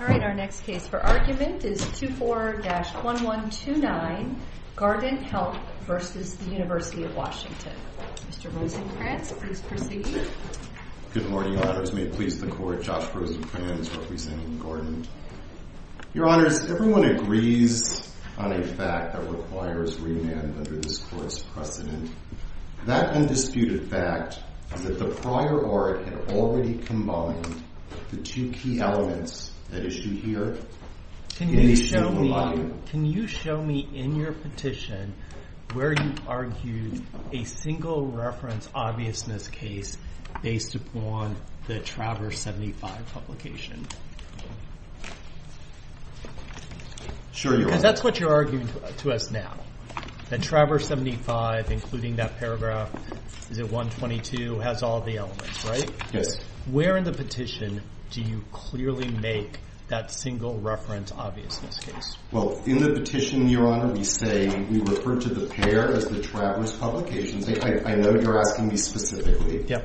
Good morning, Your Honors. May it please the Court, Josh Rosenkranz, representing the Guardant. Your Honors, everyone agrees on a fact that requires remand under this Court's precedent. That undisputed fact is that the prior Orritt had already combined the two key elements that issue here, at least in the volume. Can you show me, in your petition, where you argued a single reference obviousness case based upon the Traverse 75 publication? Sure, Your Honor. That's what you're arguing to us now, that Traverse 75, including that paragraph, is it 122, has all the elements, right? Yes. Where in the petition do you clearly make that single reference obviousness case? Well, in the petition, Your Honor, we say, we refer to the pair as the Traverse publications. I know you're asking me specifically. Yeah.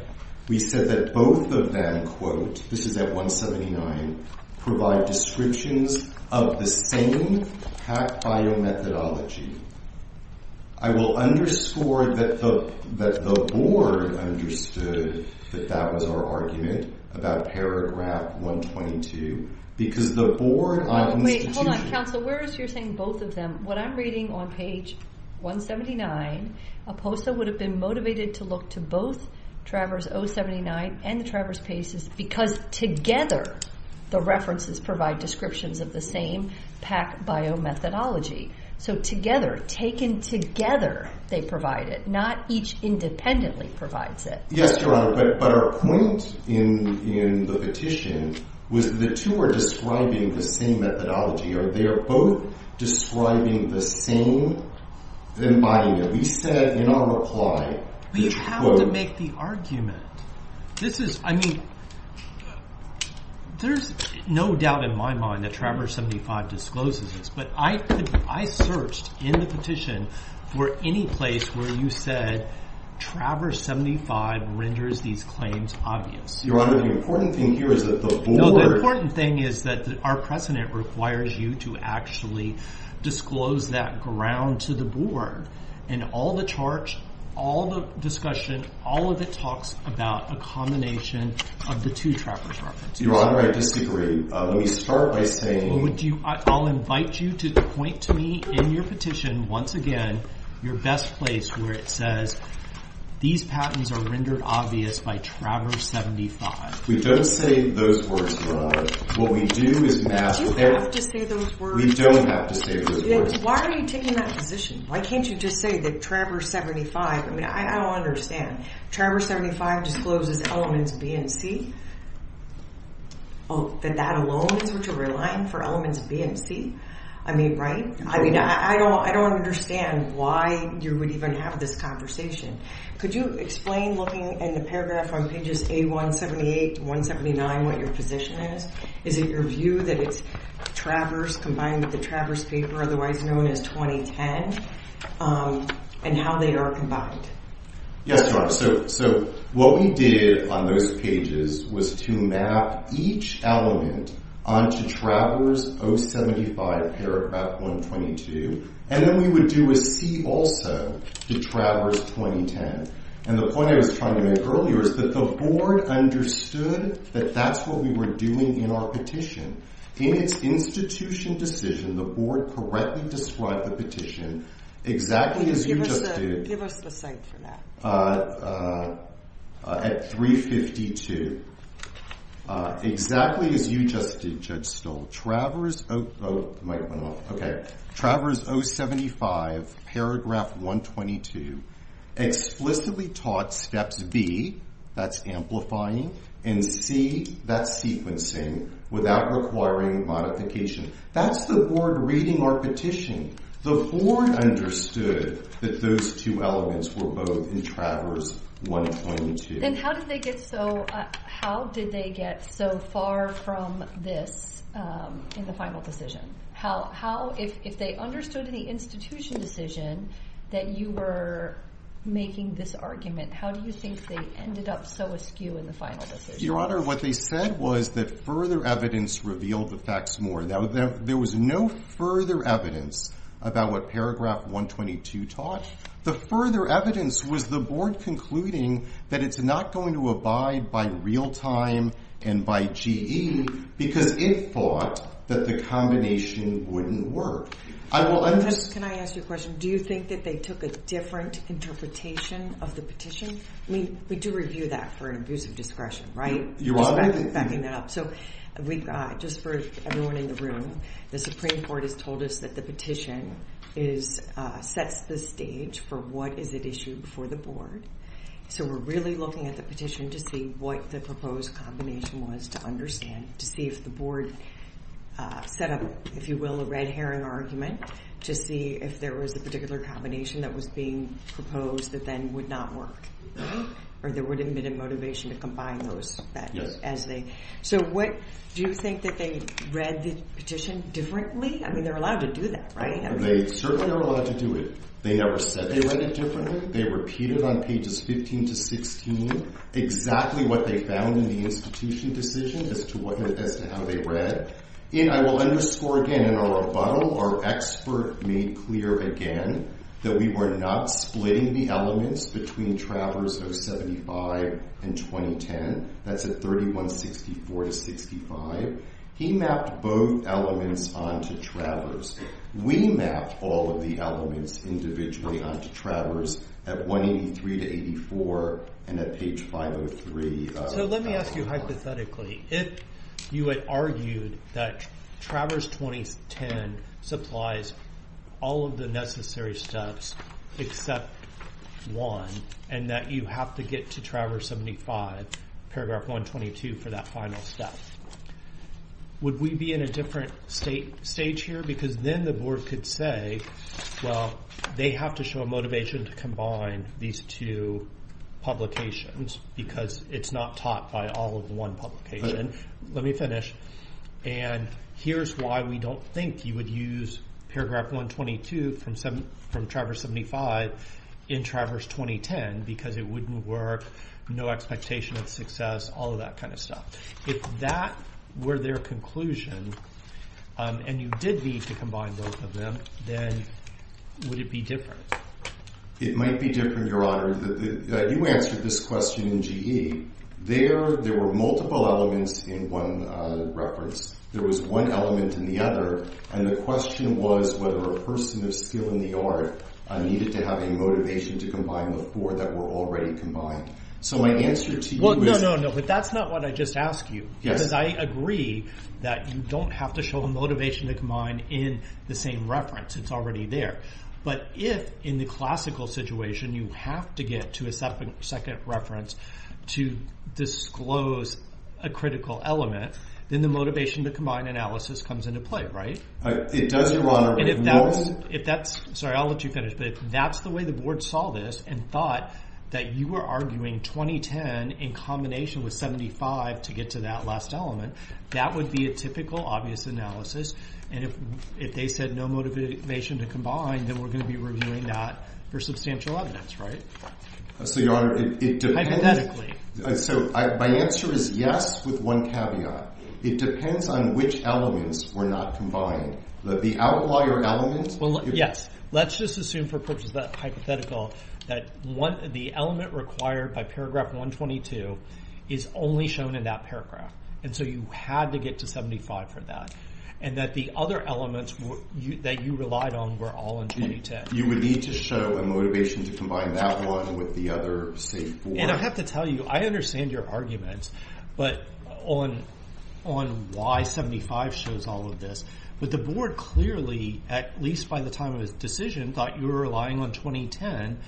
We said that both of them, quote, this is at 179, provide descriptions of the same hack biomethodology. I will underscore that the Board understood that that was our argument about paragraph 122, because the Board of Institutions... Wait, hold on. Counsel, where is your saying both of them? What I'm reading on page 179, Oposa would have been motivated to look to both Traverse 079 and the Traverse pages, because together, the references provide descriptions of the same pack biomethodology. So together, taken together, they provide it, not each independently provides it. Yes, Your Honor, but our point in the petition was the two were describing the same methodology, or they're both describing the same mind. We said in our reply, which quote... But you have to make the argument. This is, I mean, there's no doubt in my mind that Traverse 75 discloses this, but I could I searched in the petition for any place where you said Traverse 75 renders these claims obvious. Your Honor, the important thing here is that the Board... No, the important thing is that our precedent requires you to actually disclose that ground to the Board, and all the charts, all the discussion, all of it talks about a combination of the two Traverse references. Your Honor, I disagree. Let me start by saying... I'll invite you to point to me in your petition, once again, your best place where it says these patents are rendered obvious by Traverse 75. We don't say those words, Your Honor. What we do is... But you have to say those words. We don't have to say those words. Why are you taking that position? Why can't you just say that Traverse 75, I mean, I don't understand. Traverse 75 discloses elements B and C, that that alone is what you're relying for elements B and C? I mean, right? I mean, I don't understand why you would even have this conversation. Could you explain looking in the paragraph on pages A178, 179, what your position is? Is it your view that it's Traverse combined with the Traverse paper, otherwise known as 2010, and how they are combined? Yes, Your Honor. So what we did on those pages was to map each element onto Traverse 075 paragraph 122. And then we would do a C also to Traverse 2010. And the point I was trying to make earlier is that the board understood that that's what we were doing in our petition. In its institution decision, the board correctly described the petition exactly as you just did. Give us the cite for that. At 352, exactly as you just did, Judge Stoll. Traverse, oh, the mic went off. Okay. Traverse 075 paragraph 122 explicitly taught steps B, that's amplifying, and C, that's sequencing without requiring modification. That's the board reading our petition. The board understood that those two elements were both in Traverse 122. And how did they get so far from this in the final decision? If they understood in the institution decision that you were making this argument, how do you think they ended up so askew in the final decision? Your Honor, what they said was that further evidence revealed the facts more. There was no further evidence about what paragraph 122 taught. The further evidence was the board concluding that it's not going to abide by real time and by GE because it thought that the combination wouldn't work. Can I ask you a question? Do you think that they took a different interpretation of the petition? I mean, we do review that for an abuse of discretion, right? You are. Backing that up. We've got, just for everyone in the room, the Supreme Court has told us that the petition sets the stage for what is at issue before the board. So we're really looking at the petition to see what the proposed combination was to understand, to see if the board set up, if you will, a red herring argument to see if there was a particular combination that was being proposed that then would not work. Or there would have been a motivation to combine those as they... Do you think that they read the petition differently? I mean, they're allowed to do that, right? They certainly are allowed to do it. They never said they read it differently. They repeated on pages 15 to 16 exactly what they found in the institution decision as to how they read. I will underscore again in our rebuttal, our expert made clear again that we were not splitting the elements between Travers 075 and 2010. That's at 3164 to 65. He mapped both elements onto Travers. We mapped all of the elements individually onto Travers at 183 to 84 and at page 503. So let me ask you hypothetically, if you had argued that Travers 2010 supplies all of the paragraph 122 for that final step, would we be in a different stage here? Because then the board could say, well, they have to show a motivation to combine these two publications because it's not taught by all of one publication. Let me finish. And here's why we don't think you would use paragraph 122 from Travers 075 in Travers 2010 because it wouldn't work, no expectation of success, all of that kind of stuff. If that were their conclusion, and you did need to combine both of them, then would it be different? It might be different, Your Honor. You answered this question in GE. There were multiple elements in one reference. There was one element in the other, and the question was whether a person of skill in motivation to combine the four that were already combined. So my answer to you is- Well, no, no, no. But that's not what I just asked you because I agree that you don't have to show a motivation to combine in the same reference. It's already there. But if in the classical situation, you have to get to a second reference to disclose a critical element, then the motivation to combine analysis comes into play, right? It does, Your Honor. If that's- Sorry, I'll let you finish. But if that's the way the board saw this and thought that you were arguing 2010 in combination with 75 to get to that last element, that would be a typical obvious analysis. And if they said no motivation to combine, then we're going to be reviewing that for substantial evidence, right? So, Your Honor, it depends- Hypothetically. So my answer is yes with one caveat. It depends on which elements were not combined. That the outlier element- Well, yes. Let's just assume for purposes of that hypothetical that the element required by paragraph 122 is only shown in that paragraph. And so you had to get to 75 for that. And that the other elements that you relied on were all in 2010. You would need to show a motivation to combine that one with the other, say, four. And I have to tell you, I understand your arguments on why 75 shows all of this. But the board clearly, at least by the time of its decision, thought you were relying on 2010.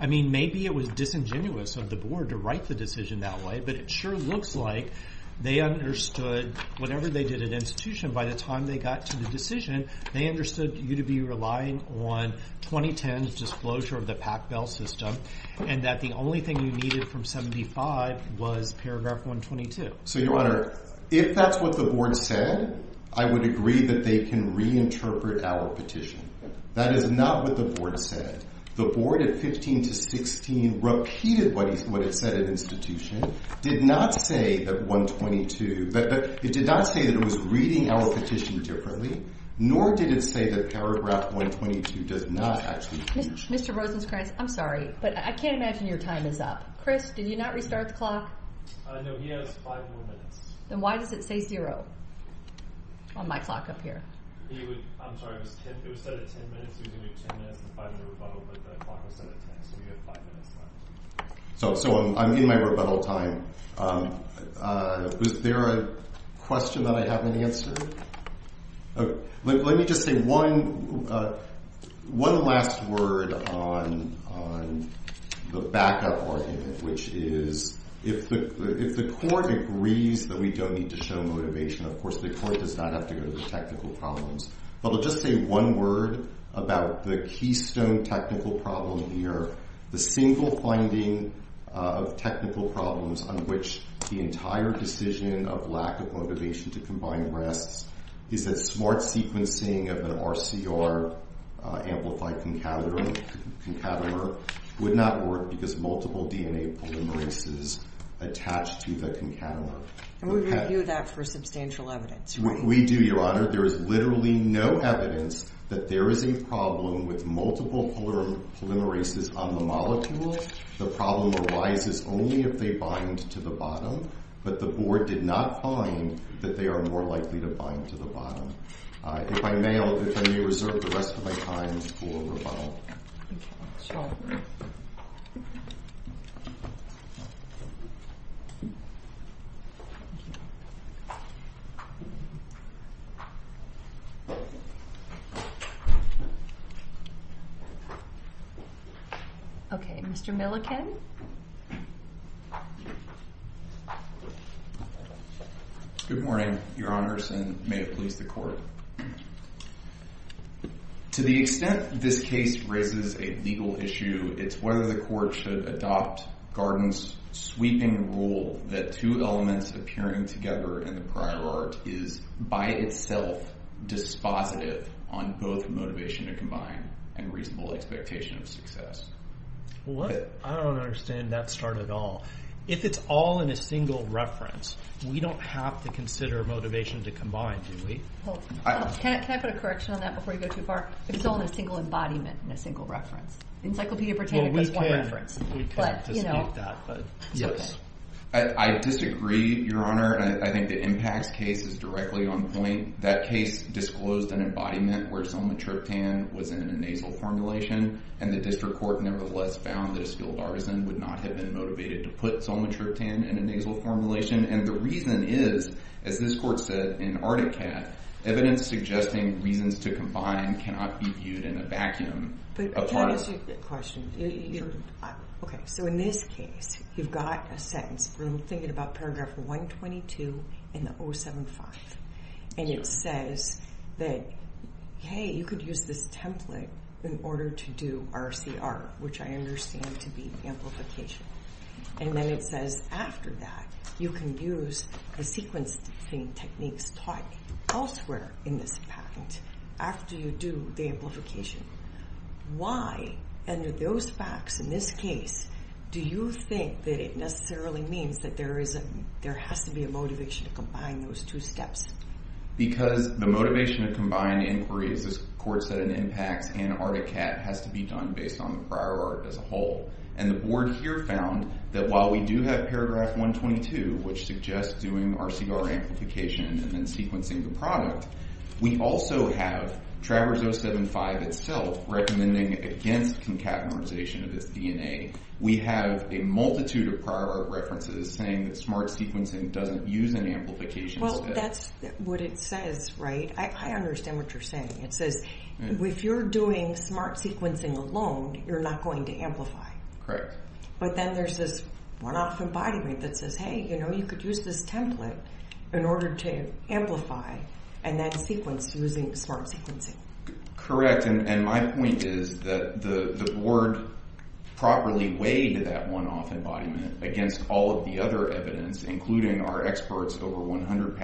I mean, maybe it was disingenuous of the board to write the decision that way. But it sure looks like they understood, whenever they did an institution, by the time they got to the decision, they understood you to be relying on 2010's disclosure of the PAC bill system. And that the only thing you needed from 75 was paragraph 122. So, Your Honor, if that's what the board said, I would agree that they can reinterpret our petition. That is not what the board said. The board, at 15 to 16, repeated what it said at institution, did not say that 122- It did not say that it was reading our petition differently, nor did it say that paragraph 122 does not actually- Mr. Rosenkranz, I'm sorry, but I can't imagine your time is up. Chris, did you not restart the clock? No, he has five more minutes. Then why does it say zero on my clock up here? I'm sorry, it was set at 10 minutes. We were going to do 10 minutes to find the rebuttal, but the clock was set at 10, so we have five minutes left. So, I'm in my rebuttal time. Was there a question that I haven't answered? Let me just say one last word on the backup argument, which is, if the court agrees that we don't need to show motivation, of course, the court does not have to go to the technical problems, but I'll just say one word about the keystone technical problem here. The single finding of technical problems on which the entire decision of lack of motivation to combine rests is that smart sequencing of an RCR amplified concatenator would not work because multiple DNA polymerases attached to the concatenator- And we review that for substantial evidence, right? We do, Your Honor. There is literally no evidence that there is a problem with multiple polymerases on the molecule. The problem arises only if they bind to the bottom, but the board did not find that they are more likely to bind to the bottom. If I may, if I may reserve the rest of my time for rebuttal. Okay, Mr. Milliken? Good morning, Your Honors, and may it please the court. To the extent this case raises a legal issue, it's whether the court should adopt Garden's sweeping rule that two elements appearing together in the prior art is, by itself, dispositive on both motivation to combine and reasonable expectation of success. I don't understand that start at all. If it's all in a single reference, we don't have to consider motivation to combine, do we? Can I put a correction on that before you go too far? If it's all in a single embodiment and a single reference. Encyclopedia Britannica has one reference. Well, we can't dispute that, but yes. I disagree, Your Honor. I think the impacts case is directly on point. That case disclosed an embodiment where zolmatriptan was in a nasal formulation, and the district court nevertheless found that a skilled artisan would not have been motivated to put zolmatriptan in a nasal formulation. The reason is, as this court said in Ardicat, evidence suggesting reasons to combine cannot be viewed in a vacuum. Can I ask you a question? In this case, you've got a sentence. We're thinking about paragraph 122 in the 075. It says that, hey, you could use this template in order to do RCR, which I understand to be amplification. And then it says after that, you can use the sequencing techniques taught elsewhere in this patent after you do the amplification. Why, under those facts in this case, do you think that it necessarily means that there has to be a motivation to combine those two steps? Because the motivation to combine inquiries, as the court said in Impacts and Ardicat, has to be done based on the prior art as a whole. And the board here found that while we do have paragraph 122, which suggests doing RCR amplification and then sequencing the product, we also have Travers 075 itself recommending against concatenation of its DNA. We have a multitude of prior art references saying that smart sequencing doesn't use an amplification step. Well, that's what it says, right? I understand what you're saying. It says if you're doing smart sequencing alone, you're not going to amplify. But then there's this one-off embodiment that says, hey, you know, you could use this template in order to amplify and then sequence using smart sequencing. Correct. And my point is that the board properly weighed that one-off embodiment against all of the other evidence, including our experts over 100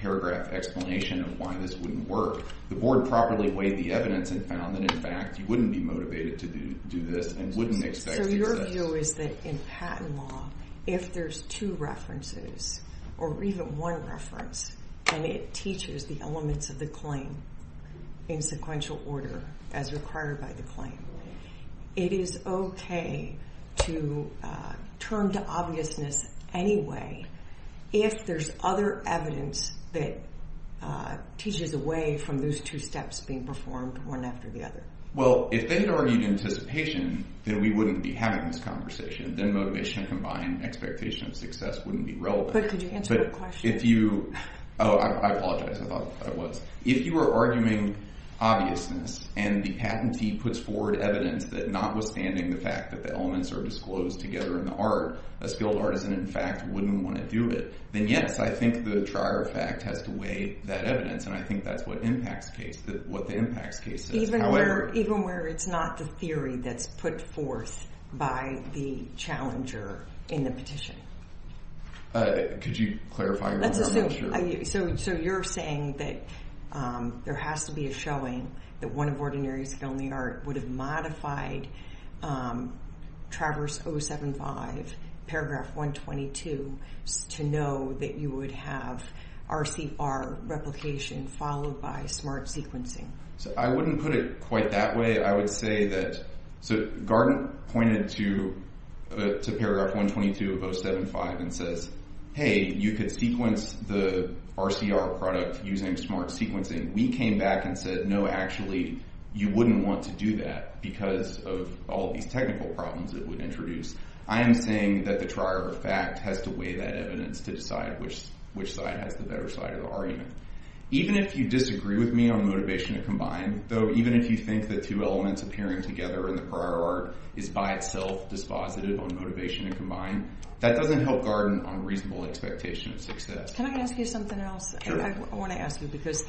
paragraph explanation of why this wouldn't work. The board properly weighed the evidence and found that, in fact, you wouldn't be motivated to do this and wouldn't expect to do that. So your view is that in patent law, if there's two references or even one reference, and it teaches the elements of the claim in sequential order as required by the claim, it is OK to turn to obviousness anyway if there's other evidence that teaches away from those two steps being performed, one after the other. Well, if they had argued anticipation, then we wouldn't be having this conversation. Then motivation and combined expectation of success wouldn't be relevant. But could you answer my question? If you... Oh, I apologize. I thought that was... If you were arguing obviousness and the patentee puts forward evidence that notwithstanding the fact that the elements are disclosed together in the art, a skilled artisan, in fact, wouldn't want to do it, then yes, I think the trier fact has to weigh that evidence. And I think that's what the impacts case says. Even where it's not the theory that's put forth by the challenger in the petition. Could you clarify? So you're saying that there has to be a showing that one of ordinary skilled in the art would have modified Travers 075 paragraph 122 to know that you would have RCR replication followed by smart sequencing. So I wouldn't put it quite that way. I would say that... So Garten pointed to paragraph 122 of 075 and says, Hey, you could sequence the RCR product using smart sequencing. We came back and said, No, actually, you wouldn't want to do that because of all these technical problems that would introduce. I am saying that the trier fact has to weigh that evidence to decide which side has the better side of the argument. Even if you disagree with me on motivation to combine, though, even if you think the two elements appearing together in the prior art is by itself dispositive on motivation to combine, that doesn't help Garten on reasonable expectation of success. Can I ask you something else? I want to ask you because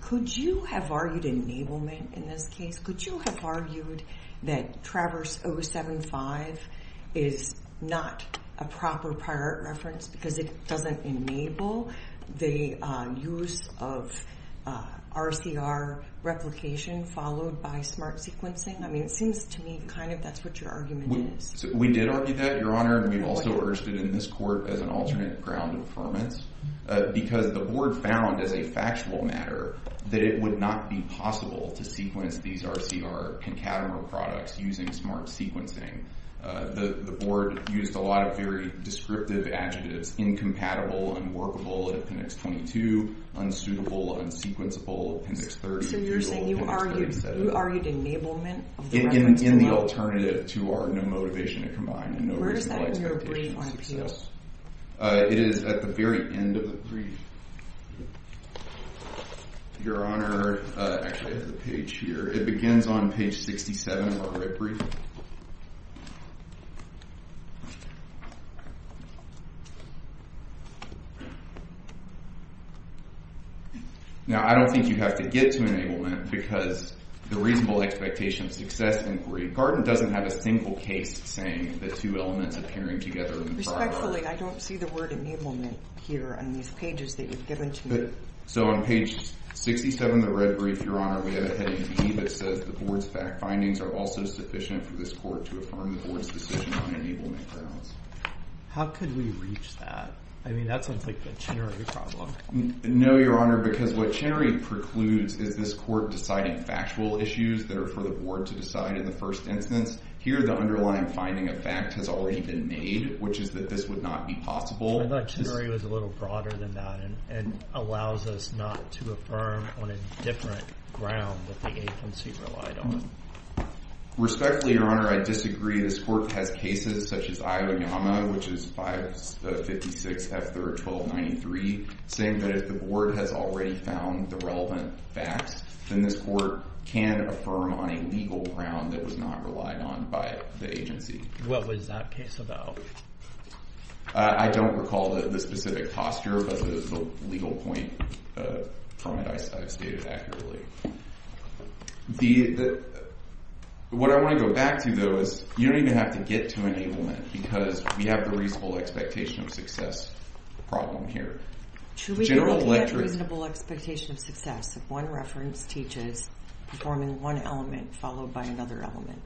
could you have argued enablement in this case? Could you have argued that Travers 075 is not a proper prior art reference because it doesn't enable the use of RCR replication followed by smart sequencing? I mean, it seems to me kind of that's what your argument is. We did argue that, Your Honor, and we've also urged it in this court as an alternate ground of affirmance because the board found as a factual matter that it would not be possible to sequence these RCR concatenate products using smart sequencing. The board used a lot of very descriptive adjectives, incompatible, unworkable, appendix 22, unsuitable, unsequenceable, appendix 30. So you're saying you argued enablement? In the alternative to our no motivation to combine. And where is that in your brief on appeals? It is at the very end of the brief, Your Honor. Actually, I have the page here. It begins on page 67 of our red brief. Now, I don't think you have to get to enablement because the reasonable expectation of success inquiry. Garden doesn't have a single case saying the two elements appearing together. Respectfully, I don't see the word enablement here on these pages that you've given to me. So on page 67 of the red brief, Your Honor, we have a heading B that says the board's fact findings are also sufficient for this court to affirm the board's decision on enablement grounds. How could we reach that? I mean, that sounds like the Chenery problem. No, Your Honor, because what Chenery precludes is this court deciding factual issues that are for the board to decide in the first instance. Here, the underlying finding of fact has already been made, which is that this would not be possible. I thought Chenery was a little broader than that and allows us not to affirm on a different ground that the agency relied on. Respectfully, Your Honor, I disagree. This court has cases such as Aoyama, which is 556 F3R 1293, saying that if the board has already found the relevant facts, then this court can affirm on a legal ground that was not relied on by the agency. What was that case about? I don't recall the specific posture, but the legal point from it, I've stated accurately. The... What I want to go back to, though, is you don't even have to get to enablement because we have the reasonable expectation of success problem here. Should we get a reasonable expectation of success if one reference teaches performing one element followed by another element?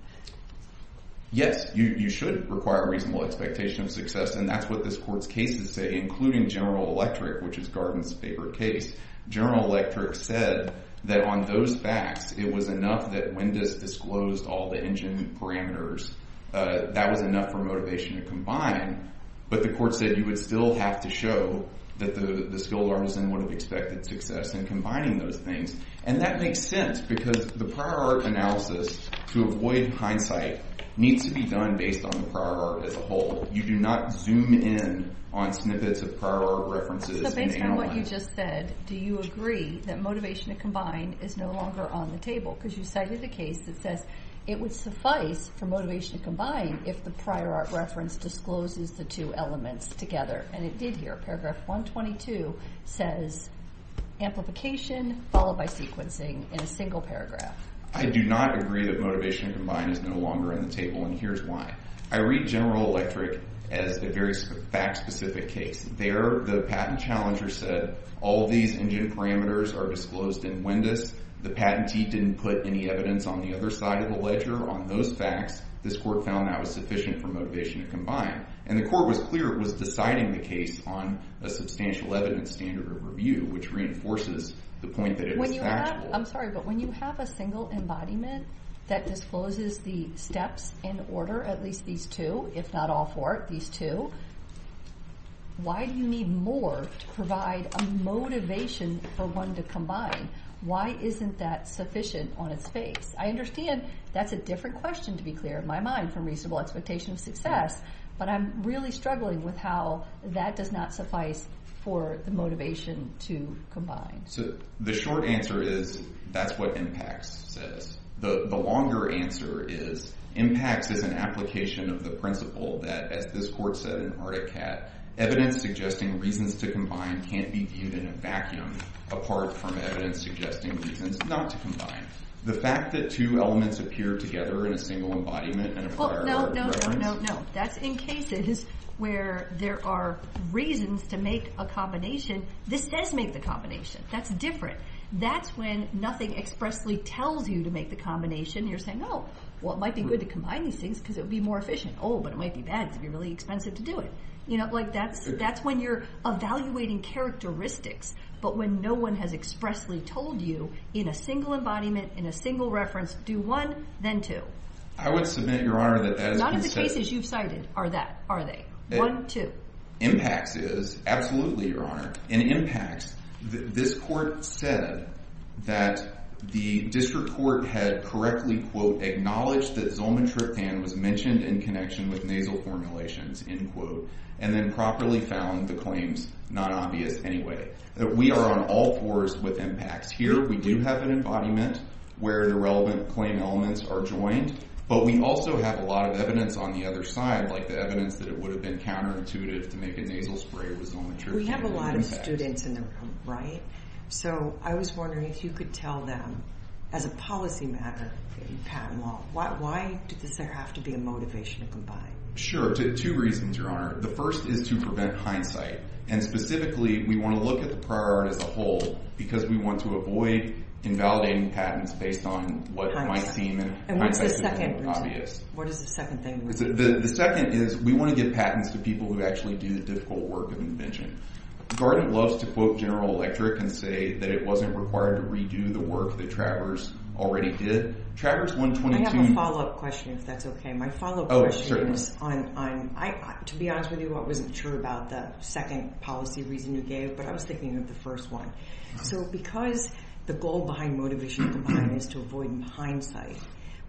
Yes, you should require a reasonable expectation of success, and that's what this court's cases say, including General Electric, which is Garden's favorite case. General Electric said that on those facts, it was enough that Wendis disclosed all the engine parameters. That was enough for motivation to combine, but the court said you would still have to show that the skilled artisan would have expected success in combining those things, and that makes sense because the prior art analysis, to avoid hindsight, needs to be done based on the prior art as a whole. You do not zoom in on snippets of prior art references. So based on what you just said, do you agree that motivation to combine is no longer on the table? Because you cited the case that says it would suffice for motivation to combine if the prior art reference discloses the two elements together, and it did here. Paragraph 122 says amplification followed by sequencing in a single paragraph. I do not agree that motivation to combine is no longer in the table, and here's why. I read General Electric as a very fact-specific case. There, the patent challenger said all these engine parameters are disclosed in Wendis. The patentee didn't put any evidence on the other side of the ledger on those facts. This court found that was sufficient for motivation to combine, and the court was clear it was deciding the case on a substantial evidence standard of review, which reinforces the point that it was factual. I'm sorry, but when you have a single embodiment that discloses the steps in order, at least these two, if not all four, these two, why do you need more to provide a motivation for one to combine? Why isn't that sufficient on its face? I understand that's a different question, to be clear in my mind, from reasonable expectation of success, but I'm really struggling with how that does not suffice for the motivation to combine. So the short answer is that's what impacts says. The longer answer is impacts is an application of the principle that, as this court said in Ardicat, evidence suggesting reasons to combine can't be deemed in a vacuum apart from evidence suggesting reasons not to combine. The fact that two elements appear together in a single embodiment and a prior reference... Well, no, no, no, no, no. That's in cases where there are reasons to make a combination. This does make the combination. That's different. That's when nothing expressly tells you to make the combination. You're saying, oh, well, it might be good to combine these things because it would be more efficient. Oh, but it might be bad because it'd be really expensive to do it. You know, like that's when you're evaluating characteristics, but when no one has expressly told you in a single embodiment, in a single reference, do one, then two. I would submit, Your Honor, that... None of the cases you've cited are that, are they? One, two. Impacts is. Absolutely, Your Honor. In impacts, this court said that the district court had correctly, quote, acknowledged that Zolmetryptan was mentioned in connection with nasal formulations, end quote, and then properly found the claims not obvious anyway. We are on all fours with impacts here. We do have an embodiment where the relevant claim elements are joined, but we also have a lot of evidence on the other side, like the evidence that it would have been counterintuitive to make a nasal spray with Zolmetryptan. We have a lot of students in the room, right? So I was wondering if you could tell them, as a policy matter in patent law, why does there have to be a motivation to come by? Sure, two reasons, Your Honor. The first is to prevent hindsight, and specifically, we want to look at the prior art as a whole because we want to avoid invalidating patents based on what might seem in hindsight to be more obvious. What is the second thing? The second is we want to give patents to people who actually do the difficult work of invention. Gartner loves to quote General Electric and say that it wasn't required to redo the work that Travers already did. Travers 122... I have a follow-up question, if that's okay. My follow-up question is on, to be honest with you, I wasn't sure about the second policy reason you gave, but I was thinking of the first one. So because the goal behind motivation to come by is to avoid hindsight,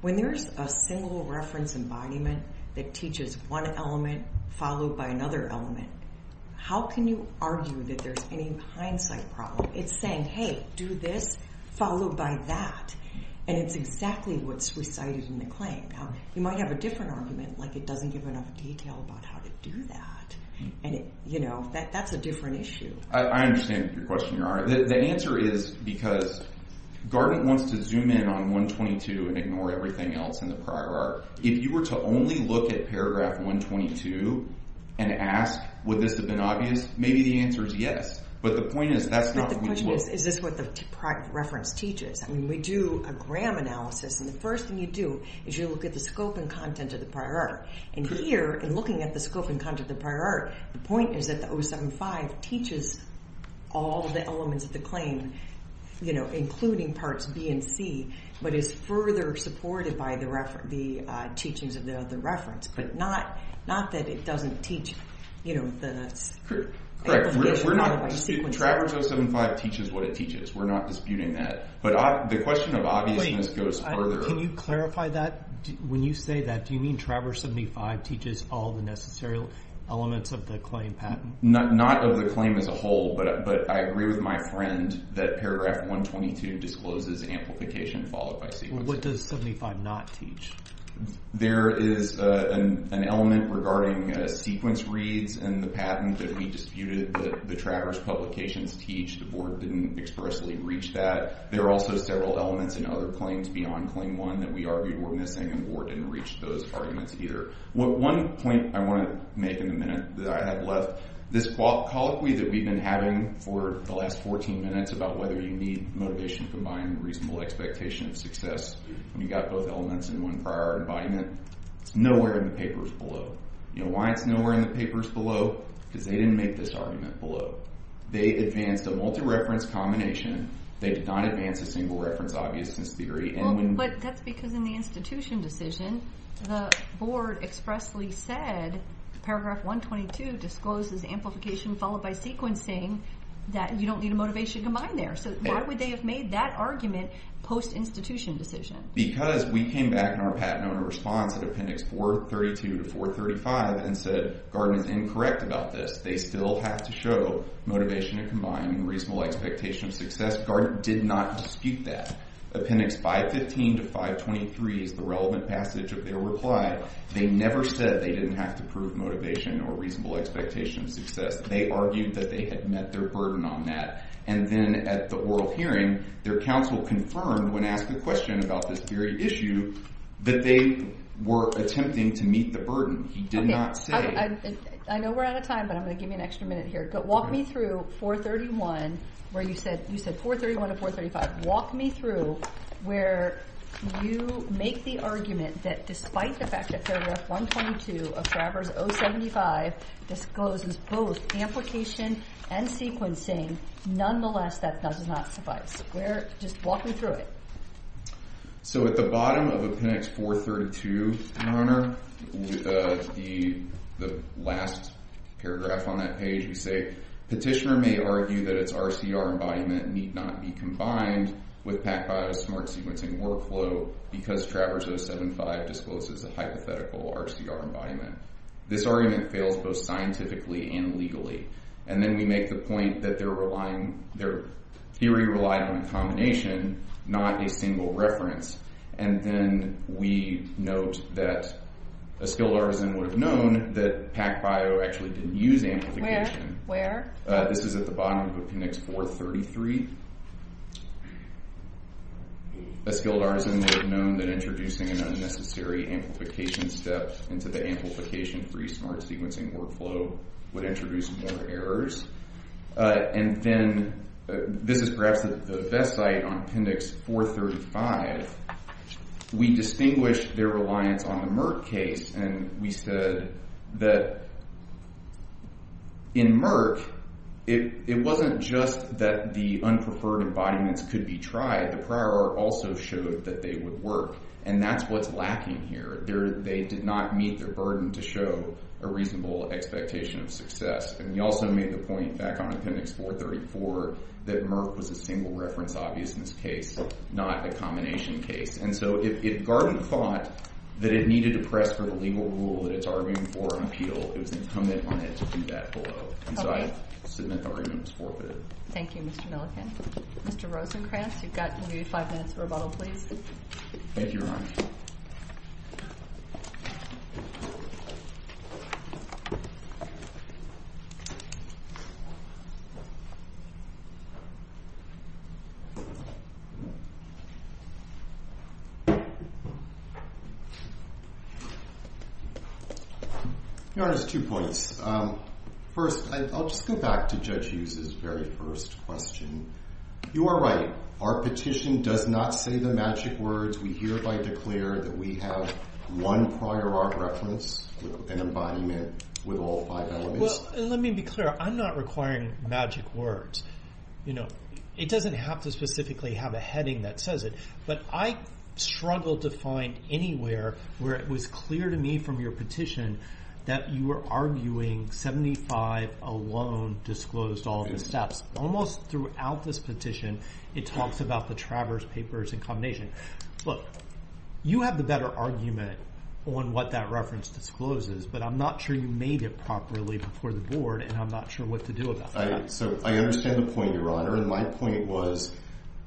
when there's a single reference embodiment that teaches one element followed by another element, how can you argue that there's any hindsight problem? It's saying, hey, do this followed by that, and it's exactly what's recited in the claim. You might have a different argument, like it doesn't give enough detail about how to do that, and that's a different issue. I understand your question, Your Honor. The answer is because Gartner wants to zoom in on 122 and ignore everything else in the prior art. If you were to only look at paragraph 122 and ask, would this have been obvious? Maybe the answer is yes, but the point is that's not what we look for. But the point is, is this what the reference teaches? I mean, we do a gram analysis, and the first thing you do is you look at the scope and content of the prior art. And here, in looking at the scope and content of the prior art, the point is that the 075 teaches all the elements of the claim, including parts B and C, but is further supported by the teachings of the reference, but not that it doesn't teach, you know, the amplification of the sequence. Traverse 075 teaches what it teaches. We're not disputing that. But the question of obviousness goes further. Can you clarify that? When you say that, do you mean Traverse 75 teaches all the necessary elements of the claim patent? Not of the claim as a whole, but I agree with my friend that paragraph 122 discloses amplification followed by sequence. What does 75 not teach? There is an element regarding sequence reads and the patent that we disputed that the Traverse publications teach. The board didn't expressly reach that. There are also several elements in other claims beyond claim one that we argued were missing, and the board didn't reach those arguments either. One point I want to make in the minute that I have left, this colloquy that we've been having for the last 14 minutes about whether you need motivation combined and reasonable expectation of success, when you've got both elements in one prior art environment, it's nowhere in the papers below. Why it's nowhere in the papers below? Because they didn't make this argument below. They advanced a multi-reference combination. They did not advance a single reference obviousness theory. Well, but that's because in the institution decision, the board expressly said paragraph 122 discloses amplification followed by sequencing that you don't need a motivation combined there. So why would they have made that argument post-institution decision? Because we came back in our patent owner response at appendix 432 to 435 and said, Gordon is incorrect about this. They still have to show motivation and combined and reasonable expectation of success. Gordon did not dispute that. Appendix 515 to 523 is the relevant passage of their reply. They never said they didn't have to prove motivation or reasonable expectation of success. They argued that they had met their burden on that. And then at the oral hearing, their counsel confirmed when asked a question about this very issue that they were attempting to meet the burden. He did not say- Okay, I know we're out of time, but I'm going to give me an extra minute here. But walk me through 431 where you said, you said 431 to 435. Walk me through where you make the argument that despite the fact that paragraph 122 of Travers 075 discloses both amplification and sequencing, nonetheless, that does not suffice. Just walk me through it. So at the bottom of Appendix 432, with the last paragraph on that page, we say, Petitioner may argue that its RCR embodiment need not be combined with PacBio's smart sequencing workflow because Travers 075 discloses a hypothetical RCR embodiment. This argument fails both scientifically and legally. And then we make the point that they're relying, their theory relied on a combination, not a single reference. And then we note that a skilled artisan would have known that PacBio actually didn't use amplification. This is at the bottom of Appendix 433. A skilled artisan would have known that introducing an unnecessary amplification step into the amplification-free smart sequencing workflow would introduce more errors. And then this is perhaps the best site on Appendix 435. We distinguish their reliance on the Merck case. And we said that in Merck, it wasn't just that the unpreferred embodiments could be tried. The prior art also showed that they would work. And that's what's lacking here. They did not meet their burden to show a reasonable expectation of success. And we also made the point back on Appendix 434 that Merck was a single reference obviousness case, not a combination case. And so if Garton thought that it needed to press for the legal rule that it's arguing for an appeal, it was incumbent on it to do that below. And so I submit the argument was forfeited. Thank you, Mr. Milliken. Mr. Rosenkranz, you've got maybe five minutes for rebuttal, please. Thank you, Your Honor. Your Honor, there's two points. First, I'll just go back to Judge Hughes' very first question. You are right. Our petition does not say the magic words. We hereby declare that we have one prior art reference with an embodiment with all five elements. Let me be clear. I'm not requiring magic words. You know, it doesn't have to specifically have a heading that says it. But I struggle to find anywhere where it was clear to me from your petition that you were arguing 75 alone disclosed all the steps. Almost throughout this petition, it talks about the Travers papers in combination. Look, you have the better argument on what that reference discloses, but I'm not sure you made it properly before the board, and I'm not sure what to do about that. So I understand the point, Your Honor. And my point was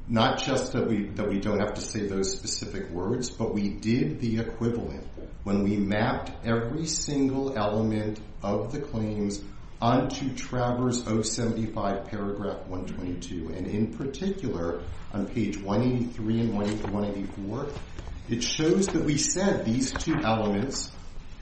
not just that we don't have to say those specific words, but we did the equivalent when we mapped every single element of the claims onto Travers 075 paragraph 122. And in particular, on page 183 and 184, it shows that we said these two elements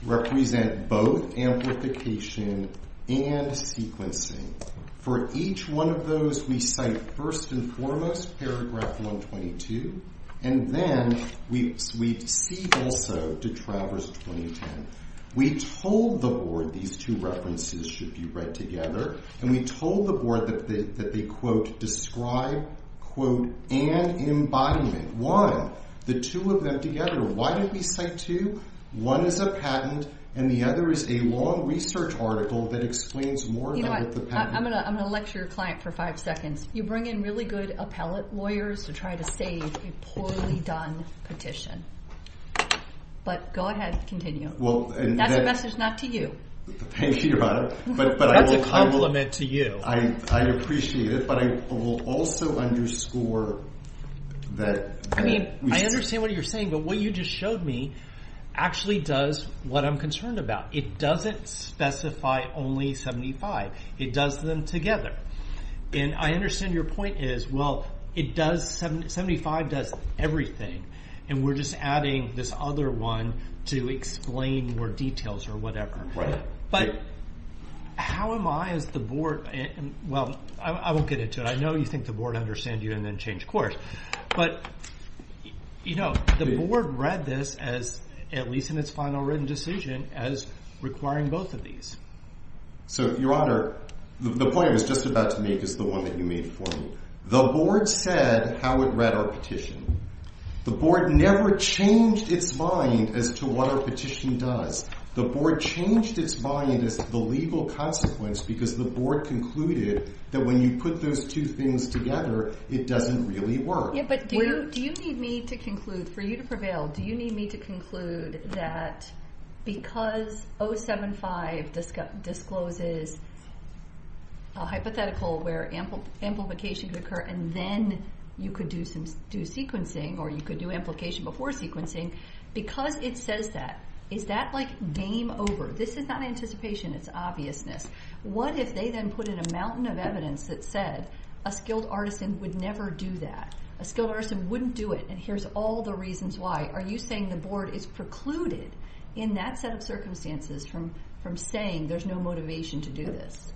represent both amplification and sequencing. For each one of those, we cite first and foremost paragraph 122. And then we cede also to Travers 2010. We told the board these two references should be read together. And we told the board that they, quote, describe, quote, an embodiment. Why? The two of them together. Why did we cite two? One is a patent. And the other is a long research article that explains more about the patent. I'm going to lecture your client for five seconds. You bring in really good appellate lawyers to try to save a poorly done petition. But go ahead. Continue. Well, and that's a message not to you. Thank you, Your Honor. But that's a compliment to you. I appreciate it. But I will also underscore that. I mean, I understand what you're saying. But what you just showed me actually does what I'm concerned about. It doesn't specify only 75. It does them together. And I understand your point is, well, 75 does everything. And we're just adding this other one to explain more details or whatever. But how am I as the board? Well, I won't get into it. I know you think the board understand you and then change course. But the board read this as, at least in its final written decision, as requiring both of these. So Your Honor, the point I was just about to make is the one that you made for me. The board said how it read our petition. The board never changed its mind as to what a petition does. The board changed its mind as the legal consequence because the board concluded that when you put those two things together, it doesn't really work. Yeah, but do you need me to conclude, for you to prevail, do you need me to conclude that because 075 discloses a hypothetical where amplification could occur and then you could do sequencing or you could do implication before sequencing, because it says that, is that like game over? This is not anticipation. It's obviousness. What if they then put in a mountain of evidence that said a skilled artisan would never do that? A skilled artisan wouldn't do it. And here's all the reasons why. Are you saying the board is precluded in that set of circumstances from saying there's no motivation to do this?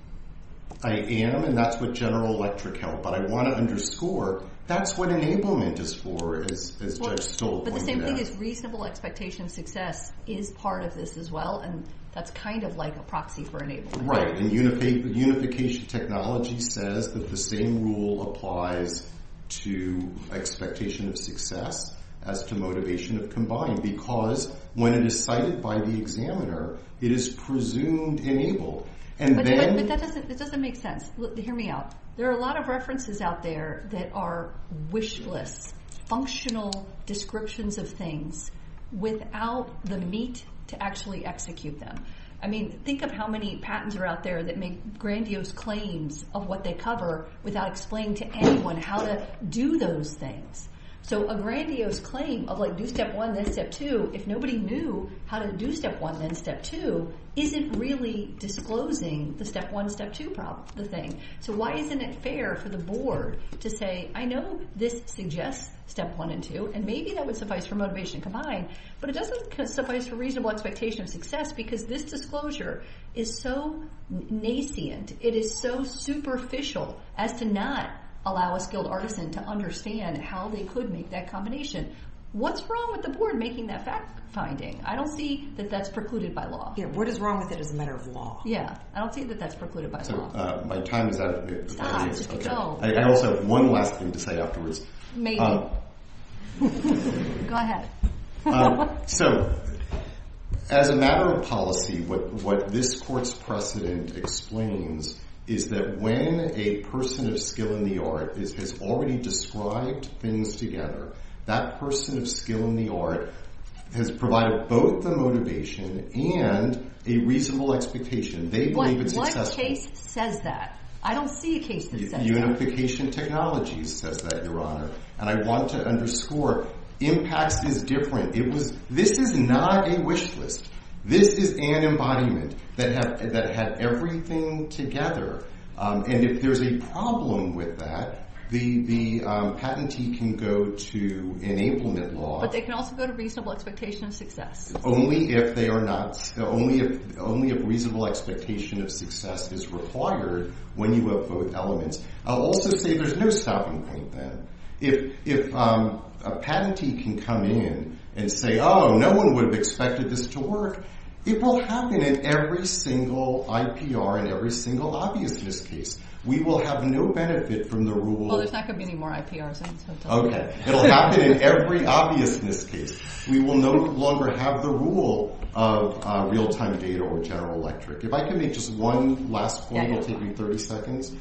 I am. And that's with General Electric help. But I want to underscore, that's what enablement is for, as Judge Stoll pointed out. But the same thing is reasonable expectation of success is part of this as well. And that's kind of like a proxy for enablement. Right. Unification technology says that the same rule applies to expectation of success as to motivation of combined. Because when it is cited by the examiner, it is presumed enabled. But that doesn't make sense. Hear me out. There are a lot of references out there that are wish lists, functional descriptions of things, without the meat to actually execute them. Think of how many patents are out there that make grandiose claims of what they cover without explaining to anyone how to do those things. So a grandiose claim of do step one, then step two, if nobody knew how to do step one, then step two, isn't really disclosing the step one, step two thing. So why isn't it fair for the board to say, I know this suggests step one and two. And maybe that would suffice for motivation combined. But it doesn't suffice for reasonable expectation of success because this disclosure is so nascent. It is so superficial as to not allow a skilled artisan to understand how they could make that combination. What's wrong with the board making that fact finding? I don't see that that's precluded by law. Yeah, what is wrong with it as a matter of law? Yeah, I don't see that that's precluded by law. So my time is out. Stop, don't. I also have one last thing to say afterwards. Maybe. Go ahead. So as a matter of policy, what this court's precedent explains is that when a person of skill in the art has already described things together, that person of skill in the art has provided both the motivation and a reasonable expectation. They believe it's accessible. What case says that? I don't see a case that says that. Unification technologies says that, Your Honor. And I want to underscore, impacts is different. This is not a wish list. This is an embodiment that had everything together. And if there's a problem with that, the patentee can go to enablement law. But they can also go to reasonable expectation of success. Only if they are not. Only if reasonable expectation of success is required when you have both elements. I'll also say there's no stopping point then. If a patentee can come in and say, oh, no one would have expected this to work, it will happen in every single IPR and every single obviousness case. We will have no benefit from the rule. Well, there's not going to be any more IPRs in. OK. It'll happen in every obviousness case. We will no longer have the rule of real-time data or general electric. If I can make just one last point, it'll take me 30 seconds.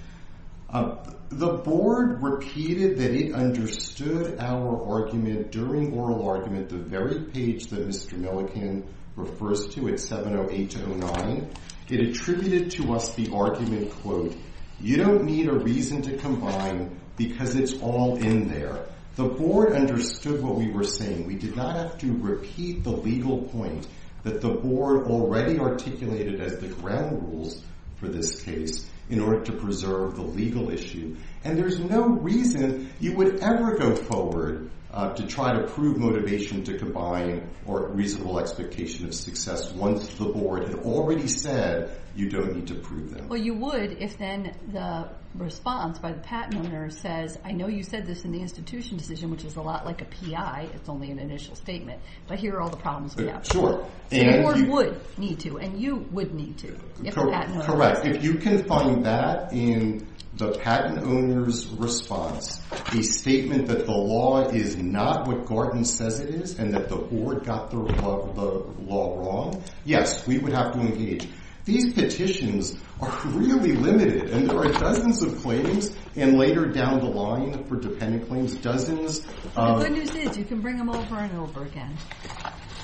The board repeated that it understood our argument during oral argument, the very page that Mr. Milliken refers to at 70809. It attributed to us the argument, quote, you don't need a reason to combine because it's all in there. The board understood what we were saying. We did not have to repeat the legal point that the board already articulated as the ground rules for this case in order to preserve the legal issue. And there's no reason you would ever go forward to try to prove motivation to combine or reasonable expectation of success once the board had already said, you don't need to prove them. Well, you would if then the response by the patent owner says, I know you said this in the institution decision, which is a lot like a PI, it's only an initial statement, but here are all the problems we have. Sure. So the board would need to, and you would need to, if the patent owner says so. Correct. If you can find that in the patent owner's response, a statement that the law is not what Gordon says it is and that the board got the law wrong, yes, we would have to engage. These petitions are really limited, and there are dozens of claims, and later down the line for dependent claims, dozens of- The good news is you can bring them over and over again.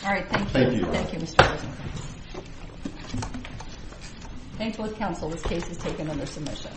All right, thank you. Thank you. Thank you, Mr. Rosenberg. Thank you. Thank both counsel. This case is taken under submission.